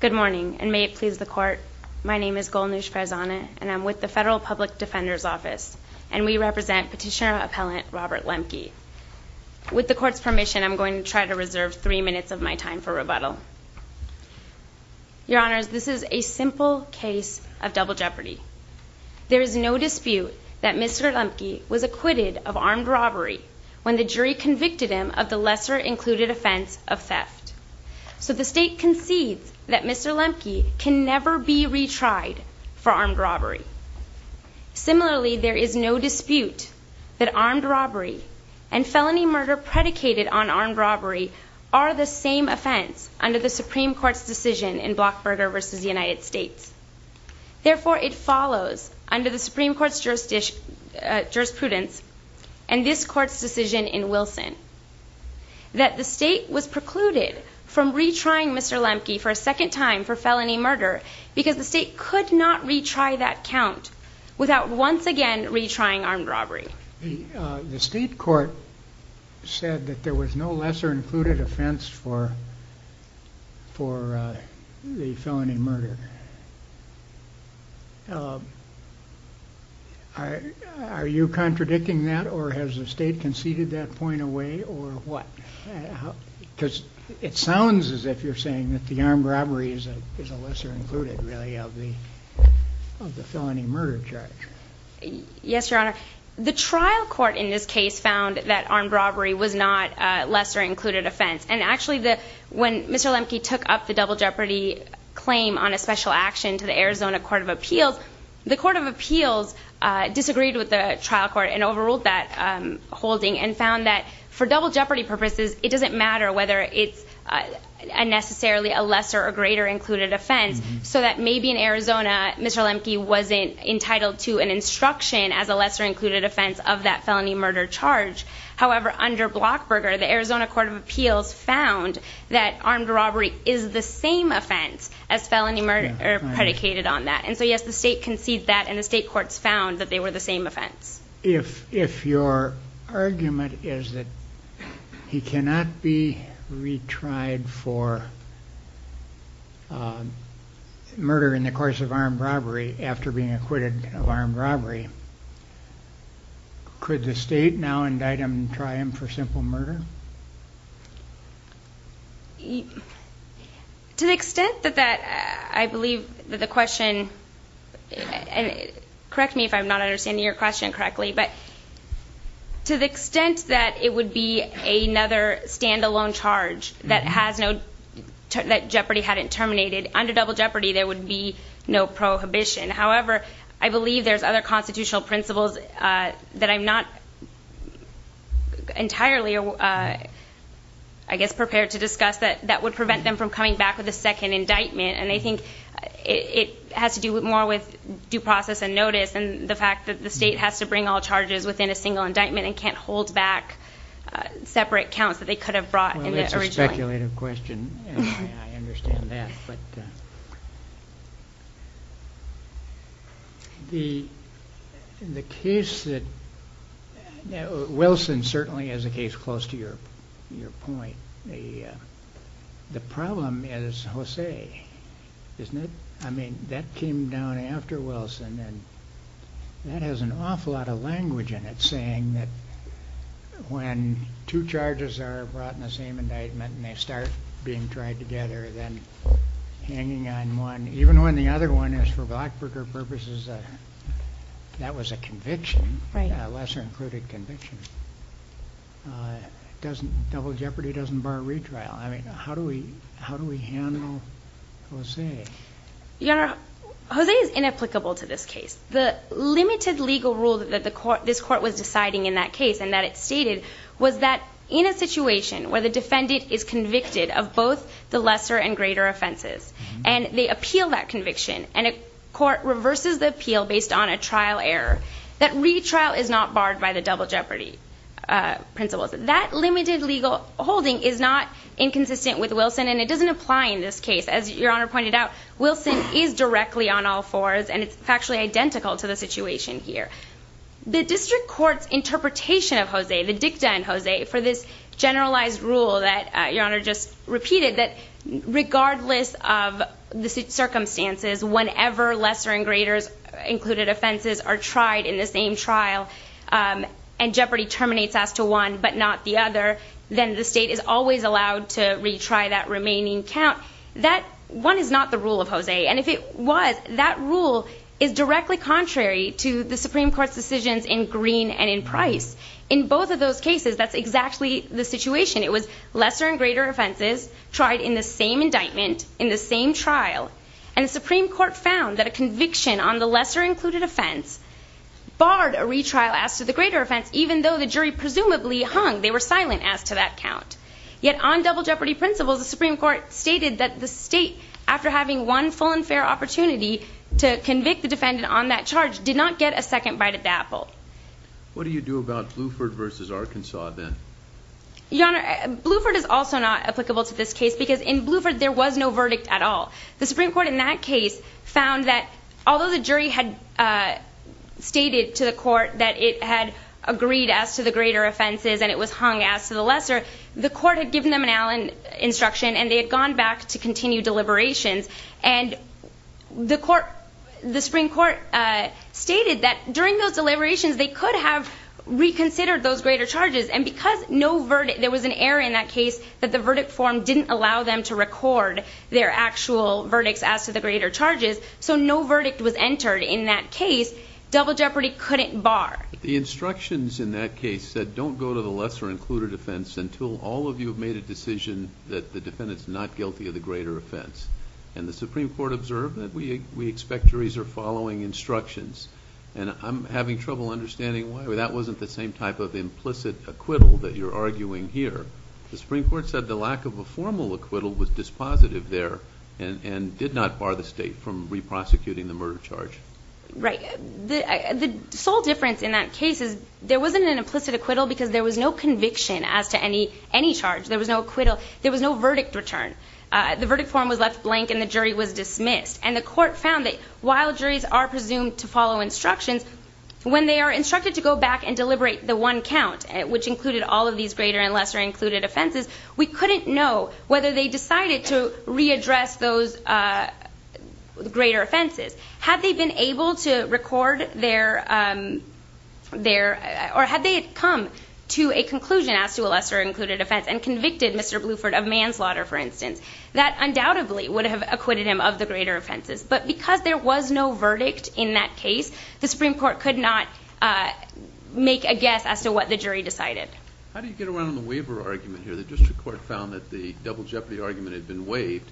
Good morning, and may it please the Court, my name is Golnish Farzana, and I'm with the Federal Public Defender's Office, and we represent Petitioner-Appellant Robert Lemke. With the Court's permission, I'm going to try to reserve three minutes of my time for rebuttal. Your Honors, this is a simple case of double jeopardy. There is no dispute that Mr. Lemke was acquitted of armed robbery when the jury convicted him of the lesser-included offense of theft. So the State concedes that Mr. Lemke can never be retried for armed robbery. Similarly, there is no dispute that armed robbery and felony murder predicated on armed robbery are the same offense under the Supreme Court's decision in Blockburger v. United States. Therefore, it follows under the Supreme Court's jurisprudence and this Court's decision in Wilson that the State was precluded from retrying Mr. Lemke for a second time for felony murder because the State could not retry that count without once again retrying armed robbery. The State Court said that there was no lesser-included offense for the felony murder. Are you contradicting that, or has the State conceded that point away, or what? Because it sounds as if you're saying that the armed robbery is a lesser-included, really, of the felony murder charge. Yes, Your Honor. The trial court in this case found that armed robbery was not a lesser-included offense. And actually, when Mr. Lemke took up the double jeopardy claim on a special action to the Arizona Court of Appeals, the Court of Appeals disagreed with the trial court and overruled that holding and found that for double jeopardy purposes, it doesn't matter whether it's necessarily a lesser- or greater-included offense so that maybe in Arizona, Mr. Lemke wasn't entitled to an instruction as a lesser-included offense of that felony murder charge. However, under Blockberger, the Arizona Court of Appeals found that armed robbery is the same offense as felony murder predicated on that. And so, yes, the State conceded that, and the State Courts found that they were the same offense. If your argument is that he cannot be retried for murder in the course of armed robbery after being acquitted of armed robbery, could the State now indict him and try him for simple murder? To the extent that that, I believe that the question, and correct me if I'm not understanding your question correctly, but to the extent that it would be another stand-alone charge that has no, that jeopardy hadn't terminated, under double jeopardy, there would be no prohibition. However, I believe there's other constitutional principles that I'm not entirely, I guess, prepared to discuss that would prevent them from coming back with a second indictment. And I think it has to do more with due process and notice than the fact that the State has to bring all charges within a single indictment and can't hold back separate counts that they could have brought in the original. That's a very speculative question, and I understand that, but the case that, Wilson certainly has a case close to your point. The problem is Jose, isn't it? I mean, that came down after Wilson, and that has an awful lot of language in it, saying that when two charges are brought in the same indictment and they start being tried together, then hanging on one, even when the other one is for Blackburger purposes, that was a conviction, a lesser-included conviction, doesn't, double jeopardy doesn't bar retrial. I mean, how do we handle Jose? Your Honor, Jose is inapplicable to this case. The limited legal rule that this court was deciding in that case and that it stated was that in a situation where the defendant is convicted of both the lesser and greater offenses and they appeal that conviction and a court reverses the appeal based on a trial error, that retrial is not barred by the double jeopardy principles. That limited legal holding is not inconsistent with Wilson, and it doesn't apply in this case. As Your Honor pointed out, Wilson is directly on all fours, and it's factually identical to the situation here. The district court's interpretation of Jose, the dicta in Jose, for this generalized rule that Your Honor just repeated, that regardless of the circumstances, whenever lesser and greater included offenses are tried in the same trial and jeopardy terminates as to one but not the other, then the state is always allowed to retry that remaining count. Now, that one is not the rule of Jose, and if it was, that rule is directly contrary to the Supreme Court's decisions in Green and in Price. In both of those cases, that's exactly the situation. It was lesser and greater offenses tried in the same indictment, in the same trial, and the Supreme Court found that a conviction on the lesser included offense barred a retrial as to the greater offense, even though the jury presumably hung. They were silent as to that count. Yet on double jeopardy principles, the Supreme Court stated that the state, after having one full and fair opportunity to convict the defendant on that charge, did not get a second bite at the apple. What do you do about Bluford v. Arkansas then? Your Honor, Bluford is also not applicable to this case because in Bluford there was no verdict at all. The Supreme Court in that case found that although the jury had stated to the court that it had agreed as to the greater offenses and it was hung as to the lesser, the court had given them an Allen instruction and they had gone back to continue deliberations. And the Supreme Court stated that during those deliberations they could have reconsidered those greater charges and because there was an error in that case, that the verdict form didn't allow them to record their actual verdicts as to the greater charges, so no verdict was entered in that case. Double jeopardy couldn't bar. The instructions in that case said don't go to the lesser included offense until all of you have made a decision that the defendant is not guilty of the greater offense. And the Supreme Court observed that we expect juries are following instructions. And I'm having trouble understanding why. That wasn't the same type of implicit acquittal that you're arguing here. The Supreme Court said the lack of a formal acquittal was dispositive there and did not bar the state from re-prosecuting the murder charge. Right. The sole difference in that case is there wasn't an implicit acquittal because there was no conviction as to any charge. There was no acquittal. There was no verdict return. The verdict form was left blank and the jury was dismissed. And the court found that while juries are presumed to follow instructions, when they are instructed to go back and deliberate the one count, which included all of these greater and lesser included offenses, we couldn't know whether they decided to readdress those greater offenses. Had they been able to record their or had they come to a conclusion as to a lesser included offense and convicted Mr. Bluford of manslaughter, for instance, that undoubtedly would have acquitted him of the greater offenses. But because there was no verdict in that case, the Supreme Court could not make a guess as to what the jury decided. How do you get around the waiver argument here? The district court found that the double jeopardy argument had been waived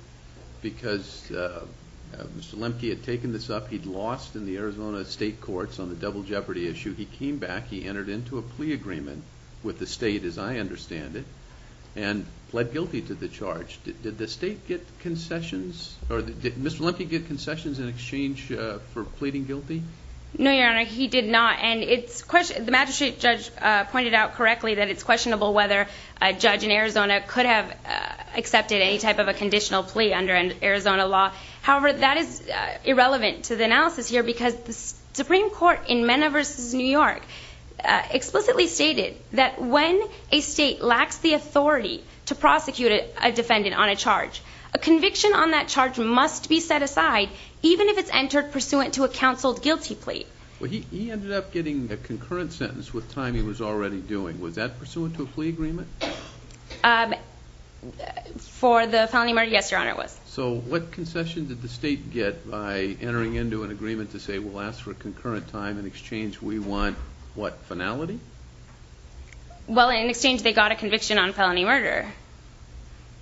because Mr. Lemke had taken this up. He'd lost in the Arizona state courts on the double jeopardy issue. He came back. He entered into a plea agreement with the state, as I understand it, and pled guilty to the charge. Did the state get concessions? Or did Mr. Lemke get concessions in exchange for pleading guilty? No, Your Honor, he did not. And the magistrate judge pointed out correctly that it's questionable whether a judge in Arizona could have accepted any type of a conditional plea under an Arizona law. However, that is irrelevant to the analysis here because the Supreme Court in Mena v. New York explicitly stated that when a state lacks the authority to prosecute a defendant on a charge, a conviction on that charge must be set aside even if it's entered pursuant to a counseled guilty plea. He ended up getting a concurrent sentence with time he was already doing. Was that pursuant to a plea agreement? For the felony murder, yes, Your Honor, it was. So what concession did the state get by entering into an agreement to say, we'll ask for concurrent time in exchange we want, what, finality? Well, in exchange they got a conviction on felony murder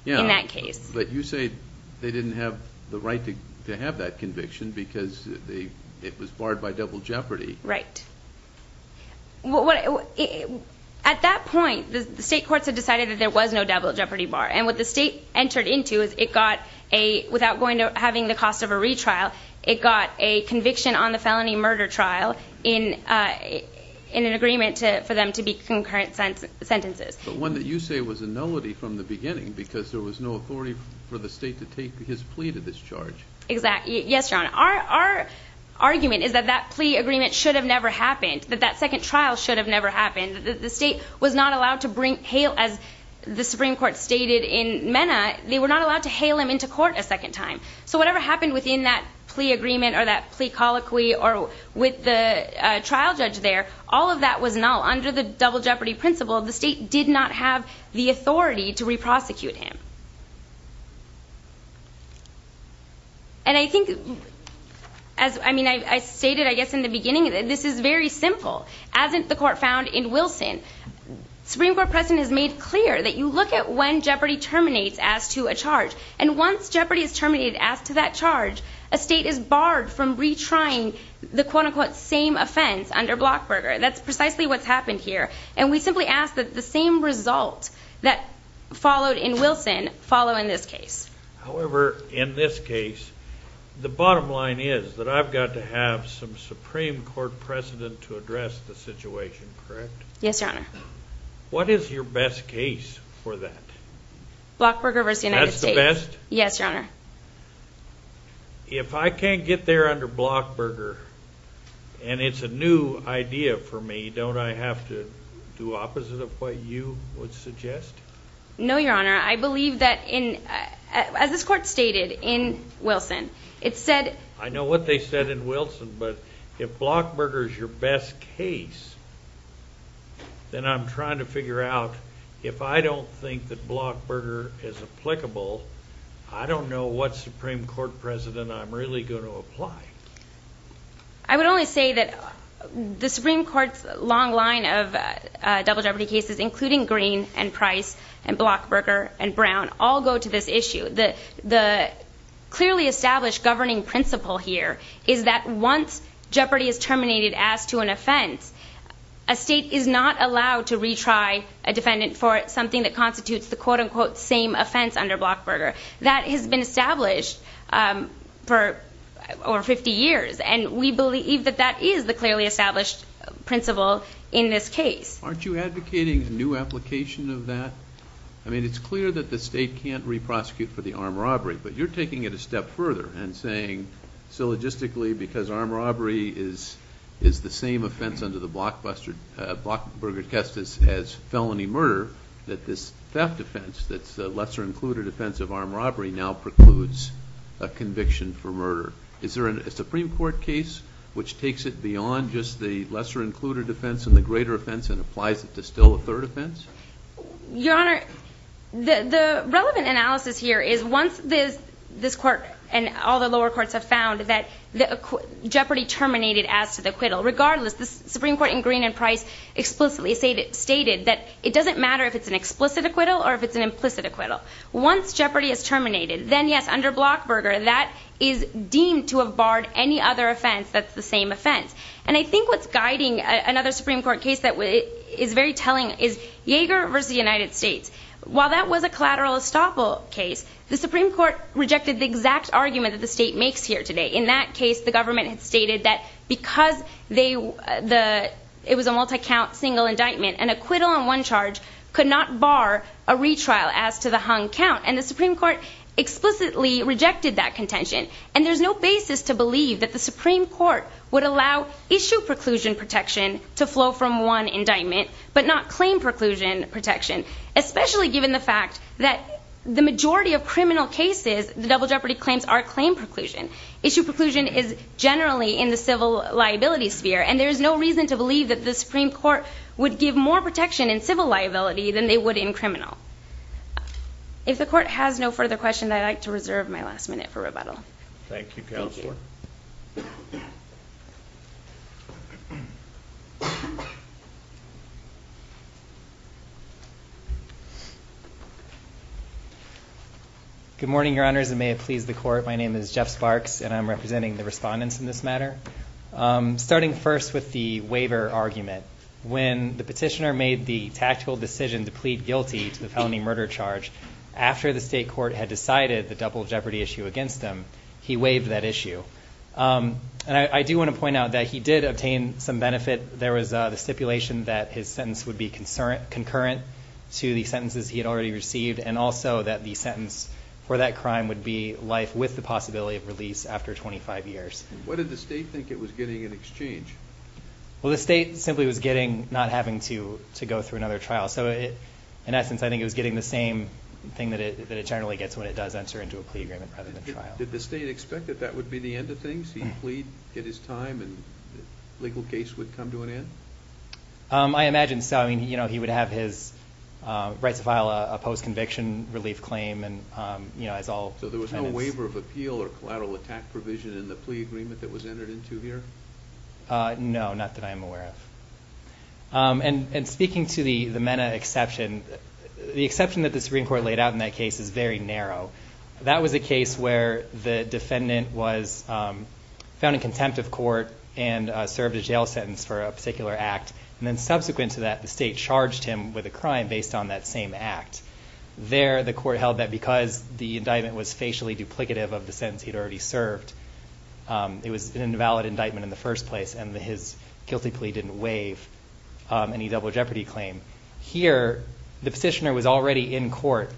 in that case. But you say they didn't have the right to have that conviction because it was barred by double jeopardy. Right. At that point, the state courts had decided that there was no double jeopardy bar, and what the state entered into is it got a, without going to having the cost of a retrial, it got a conviction on the felony murder trial in an agreement for them to be concurrent sentences. But one that you say was a nullity from the beginning because there was no authority for the state to take his plea to this charge. Exactly. Yes, Your Honor. And our argument is that that plea agreement should have never happened, that that second trial should have never happened, that the state was not allowed to bring, as the Supreme Court stated in MENA, they were not allowed to hail him into court a second time. So whatever happened within that plea agreement or that plea colloquy or with the trial judge there, all of that was null. Under the double jeopardy principle, the state did not have the authority to re-prosecute him. And I think, as I stated, I guess, in the beginning, this is very simple. As the court found in Wilson, Supreme Court precedent has made clear that you look at when jeopardy terminates as to a charge, and once jeopardy is terminated as to that charge, a state is barred from retrying the, quote-unquote, same offense under Blockburger. That's precisely what's happened here. And we simply ask that the same result that followed in Wilson follow in this case. However, in this case, the bottom line is that I've got to have some Supreme Court precedent to address the situation, correct? Yes, Your Honor. What is your best case for that? Blockburger v. United States. That's the best? Yes, Your Honor. If I can't get there under Blockburger and it's a new idea for me, don't I have to do opposite of what you would suggest? No, Your Honor. I believe that, as this court stated in Wilson, it said... I know what they said in Wilson, but if Blockburger is your best case, then I'm trying to figure out, if I don't think that Blockburger is applicable, I don't know what Supreme Court precedent I'm really going to apply. I would only say that the Supreme Court's long line of double jeopardy cases, including Green and Price and Blockburger and Brown, all go to this issue. The clearly established governing principle here is that once jeopardy is terminated as to an offense, a state is not allowed to retry a defendant for something that constitutes the quote-unquote same offense under Blockburger. That has been established for over 50 years, and we believe that that is the clearly established principle in this case. Aren't you advocating a new application of that? I mean, it's clear that the state can't re-prosecute for the armed robbery, but you're taking it a step further and saying, so logistically because armed robbery is the same offense under the Blockburger Custis as felony murder, that this theft offense that's a lesser-included offense of armed robbery now precludes a conviction for murder. Is there a Supreme Court case which takes it beyond just the lesser-included offense and the greater offense and applies it to still a third offense? Your Honor, the relevant analysis here is once this court and all the lower courts have found that jeopardy terminated as to the acquittal, regardless, the Supreme Court in Green and Price explicitly stated that it doesn't matter if it's an explicit acquittal or if it's an implicit acquittal. Once jeopardy is terminated, then yes, under Blockburger, that is deemed to have barred any other offense that's the same offense. And I think what's guiding another Supreme Court case that is very telling is Yeager v. United States. While that was a collateral estoppel case, the Supreme Court rejected the exact argument that the state makes here today. In that case, the government had stated that because it was a multi-count single indictment an acquittal on one charge could not bar a retrial as to the hung count. And the Supreme Court explicitly rejected that contention. And there's no basis to believe that the Supreme Court would allow issue preclusion protection to flow from one indictment, but not claim preclusion protection, especially given the fact that the majority of criminal cases, the double jeopardy claims, are claim preclusion. Issue preclusion is generally in the civil liability sphere. And there's no reason to believe that the Supreme Court would give more protection in civil liability than they would in criminal. If the Court has no further questions, I'd like to reserve my last minute for rebuttal. Thank you, Counselor. Good morning, Your Honors, and may it please the Court. My name is Jeff Sparks, and I'm representing the respondents in this matter. Starting first with the waiver argument. When the petitioner made the tactical decision to plead guilty to the felony murder charge, after the state court had decided the double jeopardy issue against him, he waived that issue. And I do want to point out that he did obtain some benefit. There was the stipulation that his sentence would be concurrent to the sentences he had already received, and also that the sentence for that crime would be life with the possibility of release after 25 years. What did the state think it was getting in exchange? Well, the state simply was getting not having to go through another trial. So, in essence, I think it was getting the same thing that it generally gets when it does enter into a plea agreement rather than trial. Did the state expect that that would be the end of things? He'd plead, get his time, and the legal case would come to an end? I imagine so. I mean, you know, he would have his right to file a post-conviction relief claim. So there was no waiver of appeal or collateral attack provision in the plea agreement that was entered into here? No, not that I'm aware of. And speaking to the MENA exception, the exception that the Supreme Court laid out in that case is very narrow. That was a case where the defendant was found in contempt of court and served a jail sentence for a particular act, and then subsequent to that the state charged him with a crime based on that same act. There, the court held that because the indictment was facially duplicative of the sentence he'd already served, it was an invalid indictment in the first place, and his guilty plea didn't waive any double jeopardy claim. Here, the petitioner was already in court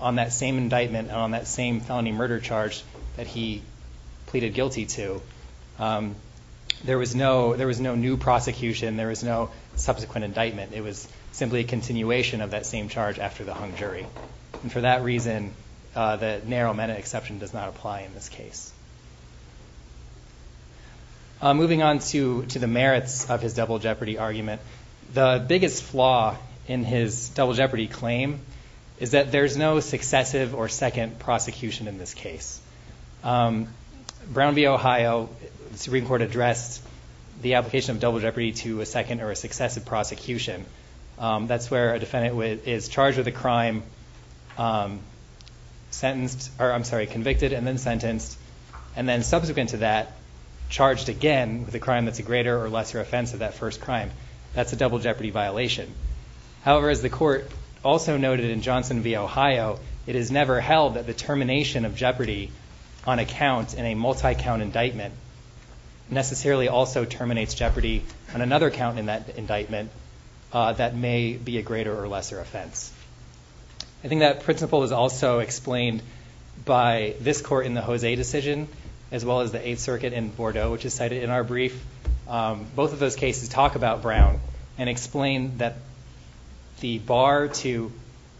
on that same indictment and on that same felony murder charge that he pleaded guilty to. There was no new prosecution. There was no subsequent indictment. It was simply a continuation of that same charge after the hung jury. And for that reason, the narrow MENA exception does not apply in this case. Moving on to the merits of his double jeopardy argument, the biggest flaw in his double jeopardy claim is that there's no successive or second prosecution in this case. Brown v. Ohio, the Supreme Court addressed the application of double jeopardy to a second or a successive prosecution. That's where a defendant is charged with a crime, convicted and then sentenced, and then subsequent to that charged again with a crime that's a greater or lesser offense of that first crime. That's a double jeopardy violation. However, as the court also noted in Johnson v. Ohio, it is never held that the termination of jeopardy on a count in a multi-count indictment necessarily also terminates jeopardy on another count in that indictment that may be a greater or lesser offense. I think that principle is also explained by this court in the Jose decision, as well as the Eighth Circuit in Bordeaux, which is cited in our brief. Both of those cases talk about Brown and explain that the bar to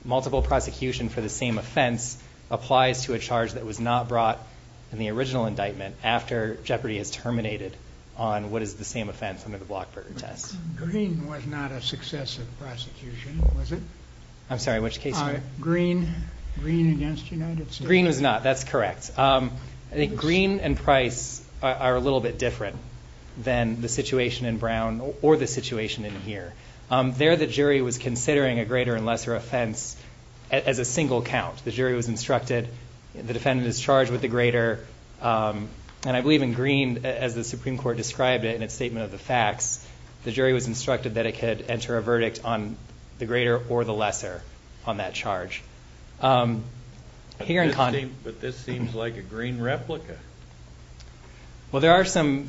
multiple prosecution for the same offense applies to a charge that was not brought in the original indictment after jeopardy is terminated on what is the same offense under the Blockburger test. Green was not a successive prosecution, was it? I'm sorry, which case? Green v. United States. Green was not, that's correct. I think Green and Price are a little bit different than the situation in Brown or the situation in here. There, the jury was considering a greater and lesser offense as a single count. The jury was instructed, the defendant is charged with the greater, and I believe in Green, as the Supreme Court described it in its statement of the facts, the jury was instructed that it could enter a verdict on the greater or the lesser on that charge. But this seems like a Green replica. Well, there are some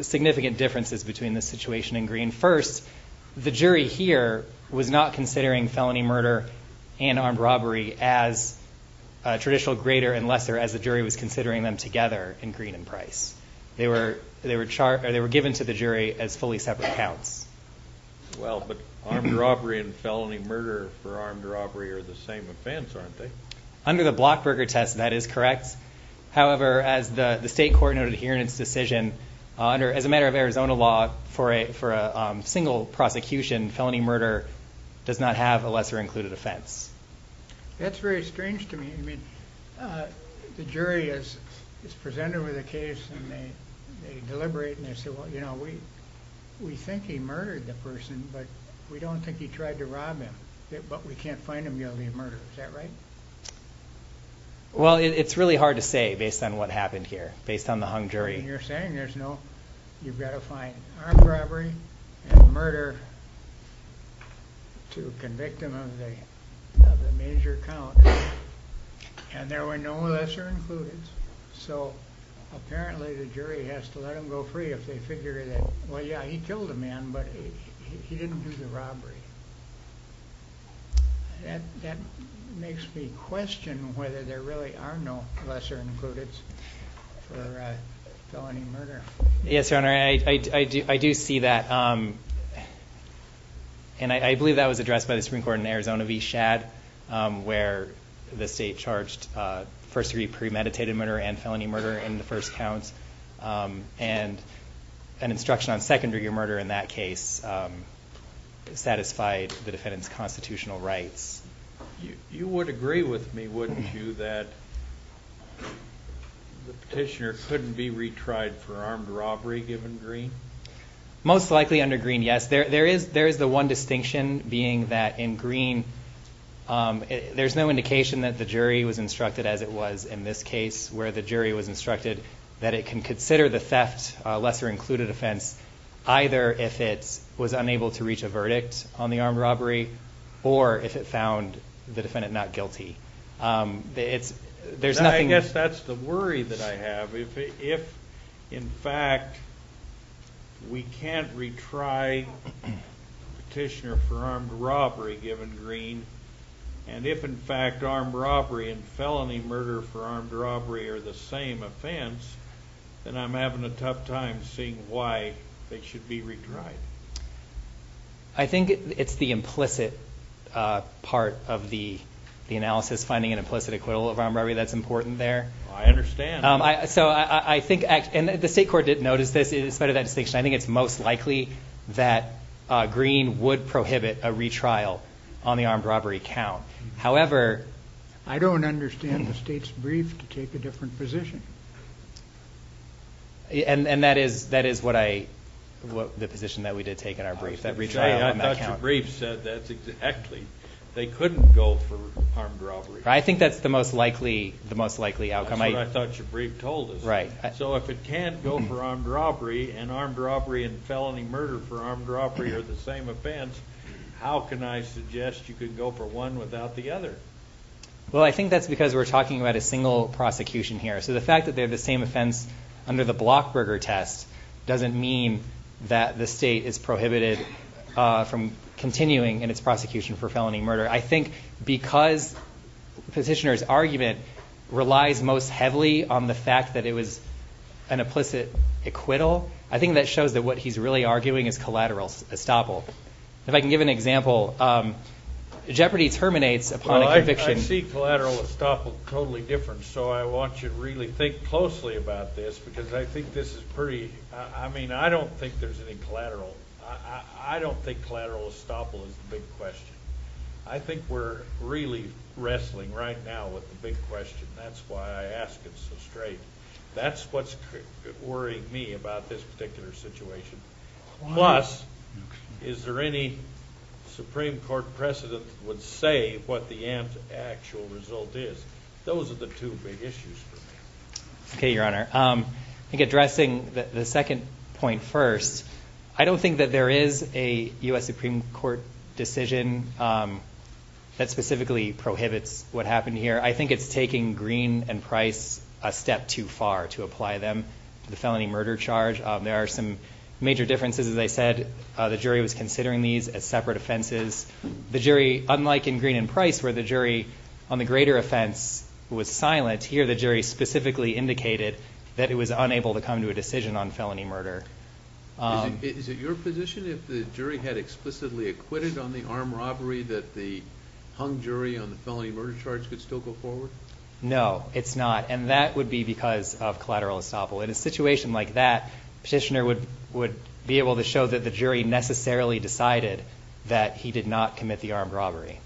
significant differences between the situation in Green. First, the jury here was not considering felony murder and armed robbery as traditional greater and lesser as the jury was considering them together in Green and Price. They were given to the jury as fully separate counts. Well, but armed robbery and felony murder for armed robbery are the same offense, aren't they? Under the Blockburger test, that is correct. However, as the state court noted here in its decision, as a matter of Arizona law, for a single prosecution, felony murder does not have a lesser included offense. That's very strange to me. I mean, the jury is presented with a case, and they deliberate, and they say, well, you know, we think he murdered the person, but we don't think he tried to rob him, but we can't find him guilty of murder. Is that right? Well, it's really hard to say based on what happened here, based on the hung jury. You're saying there's no – you've got to find armed robbery and murder to convict him of the major count, and there were no lesser included. So apparently the jury has to let him go free if they figure that, well, yeah, he killed a man, but he didn't do the robbery. That makes me question whether there really are no lesser included for felony murder. Yes, Your Honor, I do see that. And I believe that was addressed by the Supreme Court in Arizona v. Schad, where the state charged first-degree premeditated murder and felony murder in the first count, and an instruction on secondary murder in that case satisfied the defendant's constitutional rights. You would agree with me, wouldn't you, that the petitioner couldn't be retried for armed robbery given Green? Most likely under Green, yes. There is the one distinction being that in Green there's no indication that the jury was instructed as it was in this case, where the jury was instructed that it can consider the theft lesser included offense either if it was unable to reach a verdict on the armed robbery or if it found the defendant not guilty. I guess that's the worry that I have. If, in fact, we can't retry the petitioner for armed robbery given Green, and if, in fact, armed robbery and felony murder for armed robbery are the same offense, then I'm having a tough time seeing why they should be retried. I think it's the implicit part of the analysis, finding an implicit acquittal of armed robbery that's important there. I understand. So I think, and the state court did notice this, in spite of that distinction, I think it's most likely that Green would prohibit a retrial on the armed robbery count. However, I don't understand the state's brief to take a different position. And that is the position that we did take in our brief, that retrial on that count. I thought your brief said that exactly. They couldn't go for armed robbery. I think that's the most likely outcome. That's what I thought your brief told us. Right. So if it can't go for armed robbery and armed robbery and felony murder for armed robbery are the same offense, how can I suggest you can go for one without the other? Well, I think that's because we're talking about a single prosecution here. So the fact that they're the same offense under the Blockberger test doesn't mean that the state is prohibited from continuing in its prosecution for felony murder. I think because the petitioner's argument relies most heavily on the fact that it was an implicit acquittal, I think that shows that what he's really arguing is collateral estoppel. If I can give an example, Jeopardy terminates upon a conviction. I see collateral estoppel totally different, so I want you to really think closely about this, because I think this is pretty – I mean, I don't think there's any collateral – I don't think collateral estoppel is the big question. I think we're really wrestling right now with the big question. That's why I ask it so straight. That's what's worrying me about this particular situation. Plus, is there any Supreme Court precedent that would say what the actual result is? Those are the two big issues for me. Okay, Your Honor. I think addressing the second point first, I don't think that there is a U.S. Supreme Court decision that specifically prohibits what happened here. I think it's taking Green and Price a step too far to apply them to the felony murder charge. There are some major differences. As I said, the jury was considering these as separate offenses. Unlike in Green and Price, where the jury on the greater offense was silent, here the jury specifically indicated that it was unable to come to a decision on felony murder. Is it your position if the jury had explicitly acquitted on the armed robbery that the hung jury on the felony murder charge could still go forward? No, it's not, and that would be because of collateral estoppel. In a situation like that, petitioner would be able to show that the jury necessarily decided that he did not commit the armed robbery.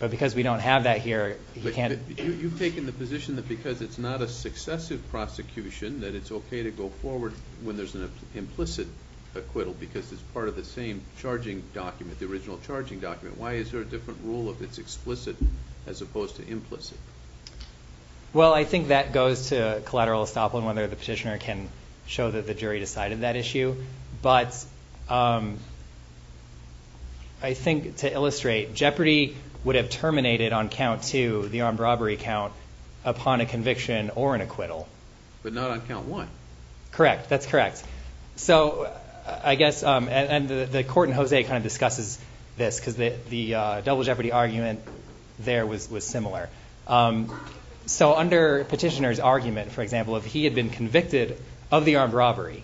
But because we don't have that here, he can't. You've taken the position that because it's not a successive prosecution, that it's okay to go forward when there's an implicit acquittal because it's part of the same charging document, the original charging document. Why is there a different rule if it's explicit as opposed to implicit? Well, I think that goes to collateral estoppel and whether the petitioner can show that the jury decided that issue. But I think to illustrate, Jeopardy would have terminated on count two, the armed robbery count, upon a conviction or an acquittal. But not on count one. Correct, that's correct. So I guess, and the court in Jose kind of discusses this because the double Jeopardy argument there was similar. So under petitioner's argument, for example, if he had been convicted of the armed robbery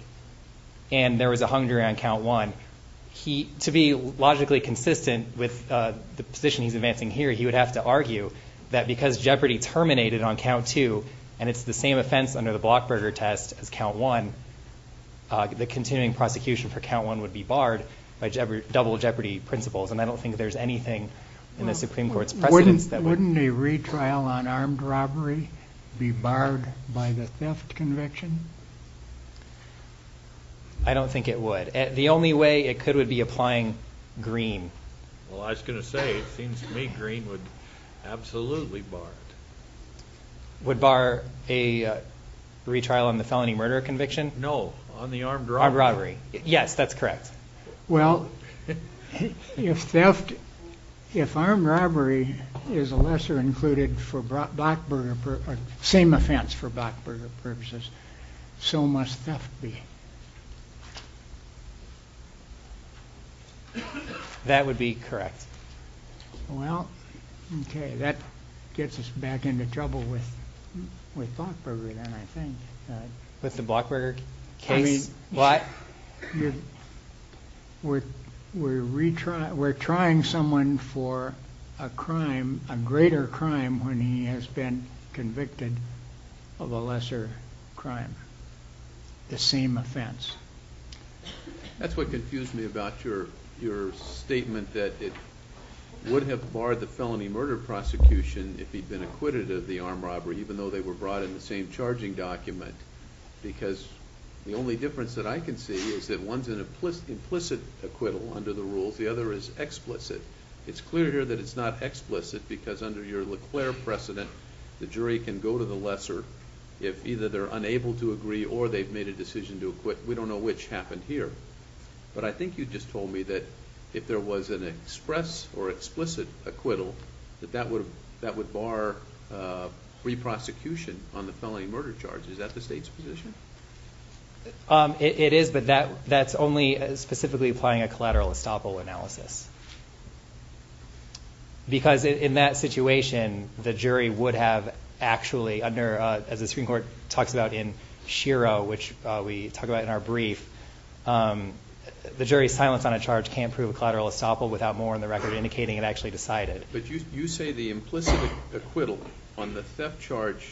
and there was a hung jury on count one, to be logically consistent with the position he's advancing here, he would have to argue that because Jeopardy terminated on count two and it's the same offense under the Blockburger test as count one, the continuing prosecution for count one would be barred by double Jeopardy principles. And I don't think there's anything in the Supreme Court's precedence that would. Wouldn't a retrial on armed robbery be barred by the theft conviction? I don't think it would. The only way it could would be applying Green. Well, I was going to say, it seems to me Green would absolutely bar it. Would bar a retrial on the felony murder conviction? No, on the armed robbery. Armed robbery, yes, that's correct. Well, if theft, if armed robbery is a lesser included for Blockburger, same offense for Blockburger purposes, so must theft be. That would be correct. Well, okay, that gets us back into trouble with Blockburger then, I think. With the Blockburger case? I mean, we're trying someone for a crime, a greater crime, when he has been convicted of a lesser crime, the same offense. That's what confused me about your statement that it would have barred the felony murder prosecution if he'd been acquitted of the armed robbery, even though they were brought in the same charging document, because the only difference that I can see is that one's an implicit acquittal under the rules, the other is explicit. It's clear here that it's not explicit because under your LeClaire precedent, the jury can go to the lesser if either they're unable to agree or they've made a decision to acquit. We don't know which happened here. But I think you just told me that if there was an express or explicit acquittal, that that would bar re-prosecution on the felony murder charge. Is that the state's position? It is, but that's only specifically applying a collateral estoppel analysis. Because in that situation, the jury would have actually under, as the Supreme Court talks about in Shiro, which we talk about in our brief, the jury's silence on a charge can't prove a collateral estoppel without more in the record indicating it actually decided. But you say the implicit acquittal on the theft charge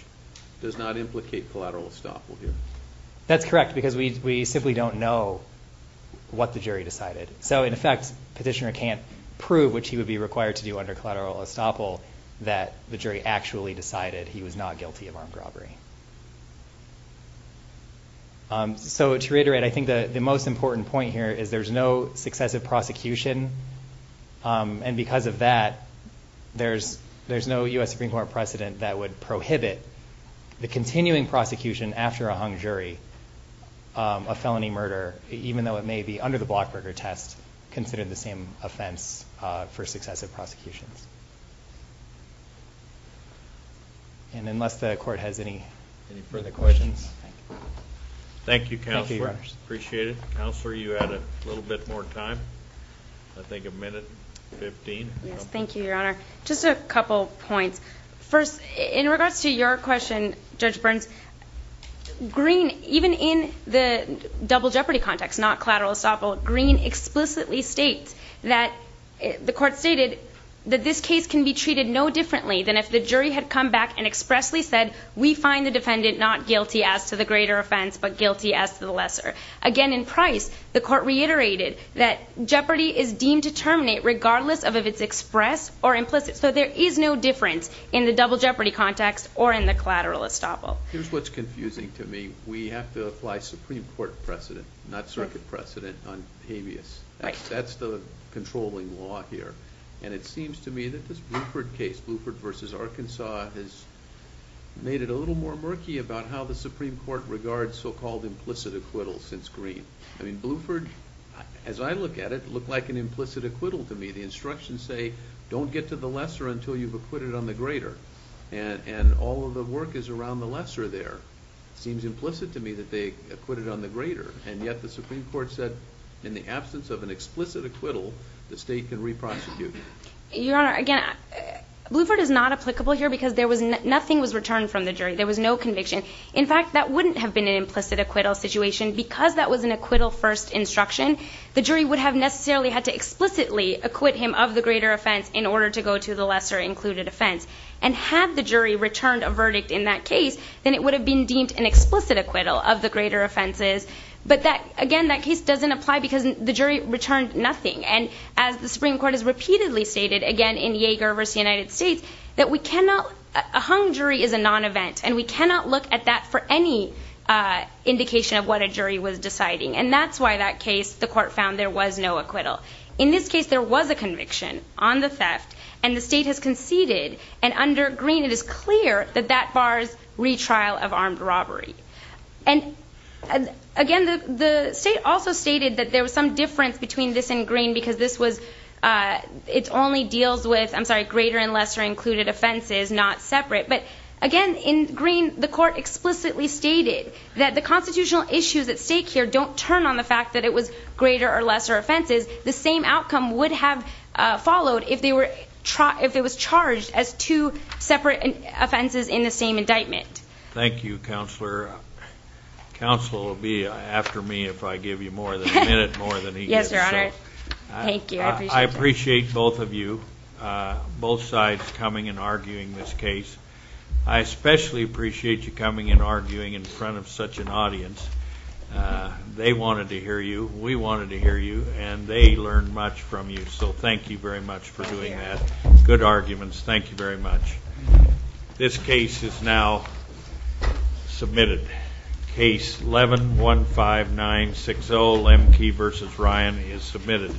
does not implicate collateral estoppel here. That's correct, because we simply don't know what the jury decided. So, in effect, Petitioner can't prove, which he would be required to do under collateral estoppel, that the jury actually decided he was not guilty of armed robbery. So to reiterate, I think the most important point here is there's no successive prosecution, and because of that, there's no U.S. Supreme Court precedent that would prohibit the continuing prosecution after a hung jury of felony murder, even though it may be, under the Blockberger test, considered the same offense for successive prosecutions. And unless the Court has any further questions. Thank you, Counselor. Thank you, Your Honors. Appreciate it. Counselor, you had a little bit more time. I think a minute and 15. Yes, thank you, Your Honor. Just a couple points. First, in regards to your question, Judge Burns, Green, even in the double jeopardy context, not collateral estoppel, Green explicitly states that the Court stated that this case can be treated no differently than if the jury had come back and expressly said, we find the defendant not guilty as to the greater offense, but guilty as to the lesser. Again, in Price, the Court reiterated that jeopardy is deemed to terminate regardless of if it's express or implicit. So there is no difference in the double jeopardy context or in the collateral estoppel. Here's what's confusing to me. We have to apply Supreme Court precedent, not circuit precedent, on habeas. That's the controlling law here. And it seems to me that this Bluford case, Bluford versus Arkansas, has made it a little more murky about how the Supreme Court regards so-called implicit acquittals since Green. I mean, Bluford, as I look at it, looked like an implicit acquittal to me. The instructions say, don't get to the lesser until you've acquitted on the greater. And all of the work is around the lesser there. It seems implicit to me that they acquitted on the greater. And yet the Supreme Court said, in the absence of an explicit acquittal, the state can re-prosecute. Your Honor, again, Bluford is not applicable here because nothing was returned from the jury. There was no conviction. In fact, that wouldn't have been an implicit acquittal situation because that was an acquittal-first instruction. The jury would have necessarily had to explicitly acquit him of the greater offense in order to go to the lesser-included offense. And had the jury returned a verdict in that case, then it would have been deemed an explicit acquittal of the greater offenses. But again, that case doesn't apply because the jury returned nothing. And as the Supreme Court has repeatedly stated, again, in Yeager versus the United States, a hung jury is a non-event, and we cannot look at that for any indication of what a jury was deciding. And that's why, in that case, the court found there was no acquittal. In this case, there was a conviction on the theft, and the state has conceded. And under Greene, it is clear that that bars retrial of armed robbery. Again, the state also stated that there was some difference between this and Greene because this only deals with greater and lesser-included offenses, not separate. But again, in Greene, the court explicitly stated that the constitutional issues at stake here don't turn on the fact that it was greater or lesser offenses. The same outcome would have followed if it was charged as two separate offenses in the same indictment. Thank you, Counselor. Counsel will be after me if I give you more than a minute, more than he did. Yes, Your Honor. Thank you. I appreciate that. Both sides coming and arguing this case. I especially appreciate you coming and arguing in front of such an audience. They wanted to hear you, we wanted to hear you, and they learned much from you, so thank you very much for doing that. Good arguments. Thank you very much. This case is now submitted. Case 11-15960, Lemke v. Ryan, is submitted.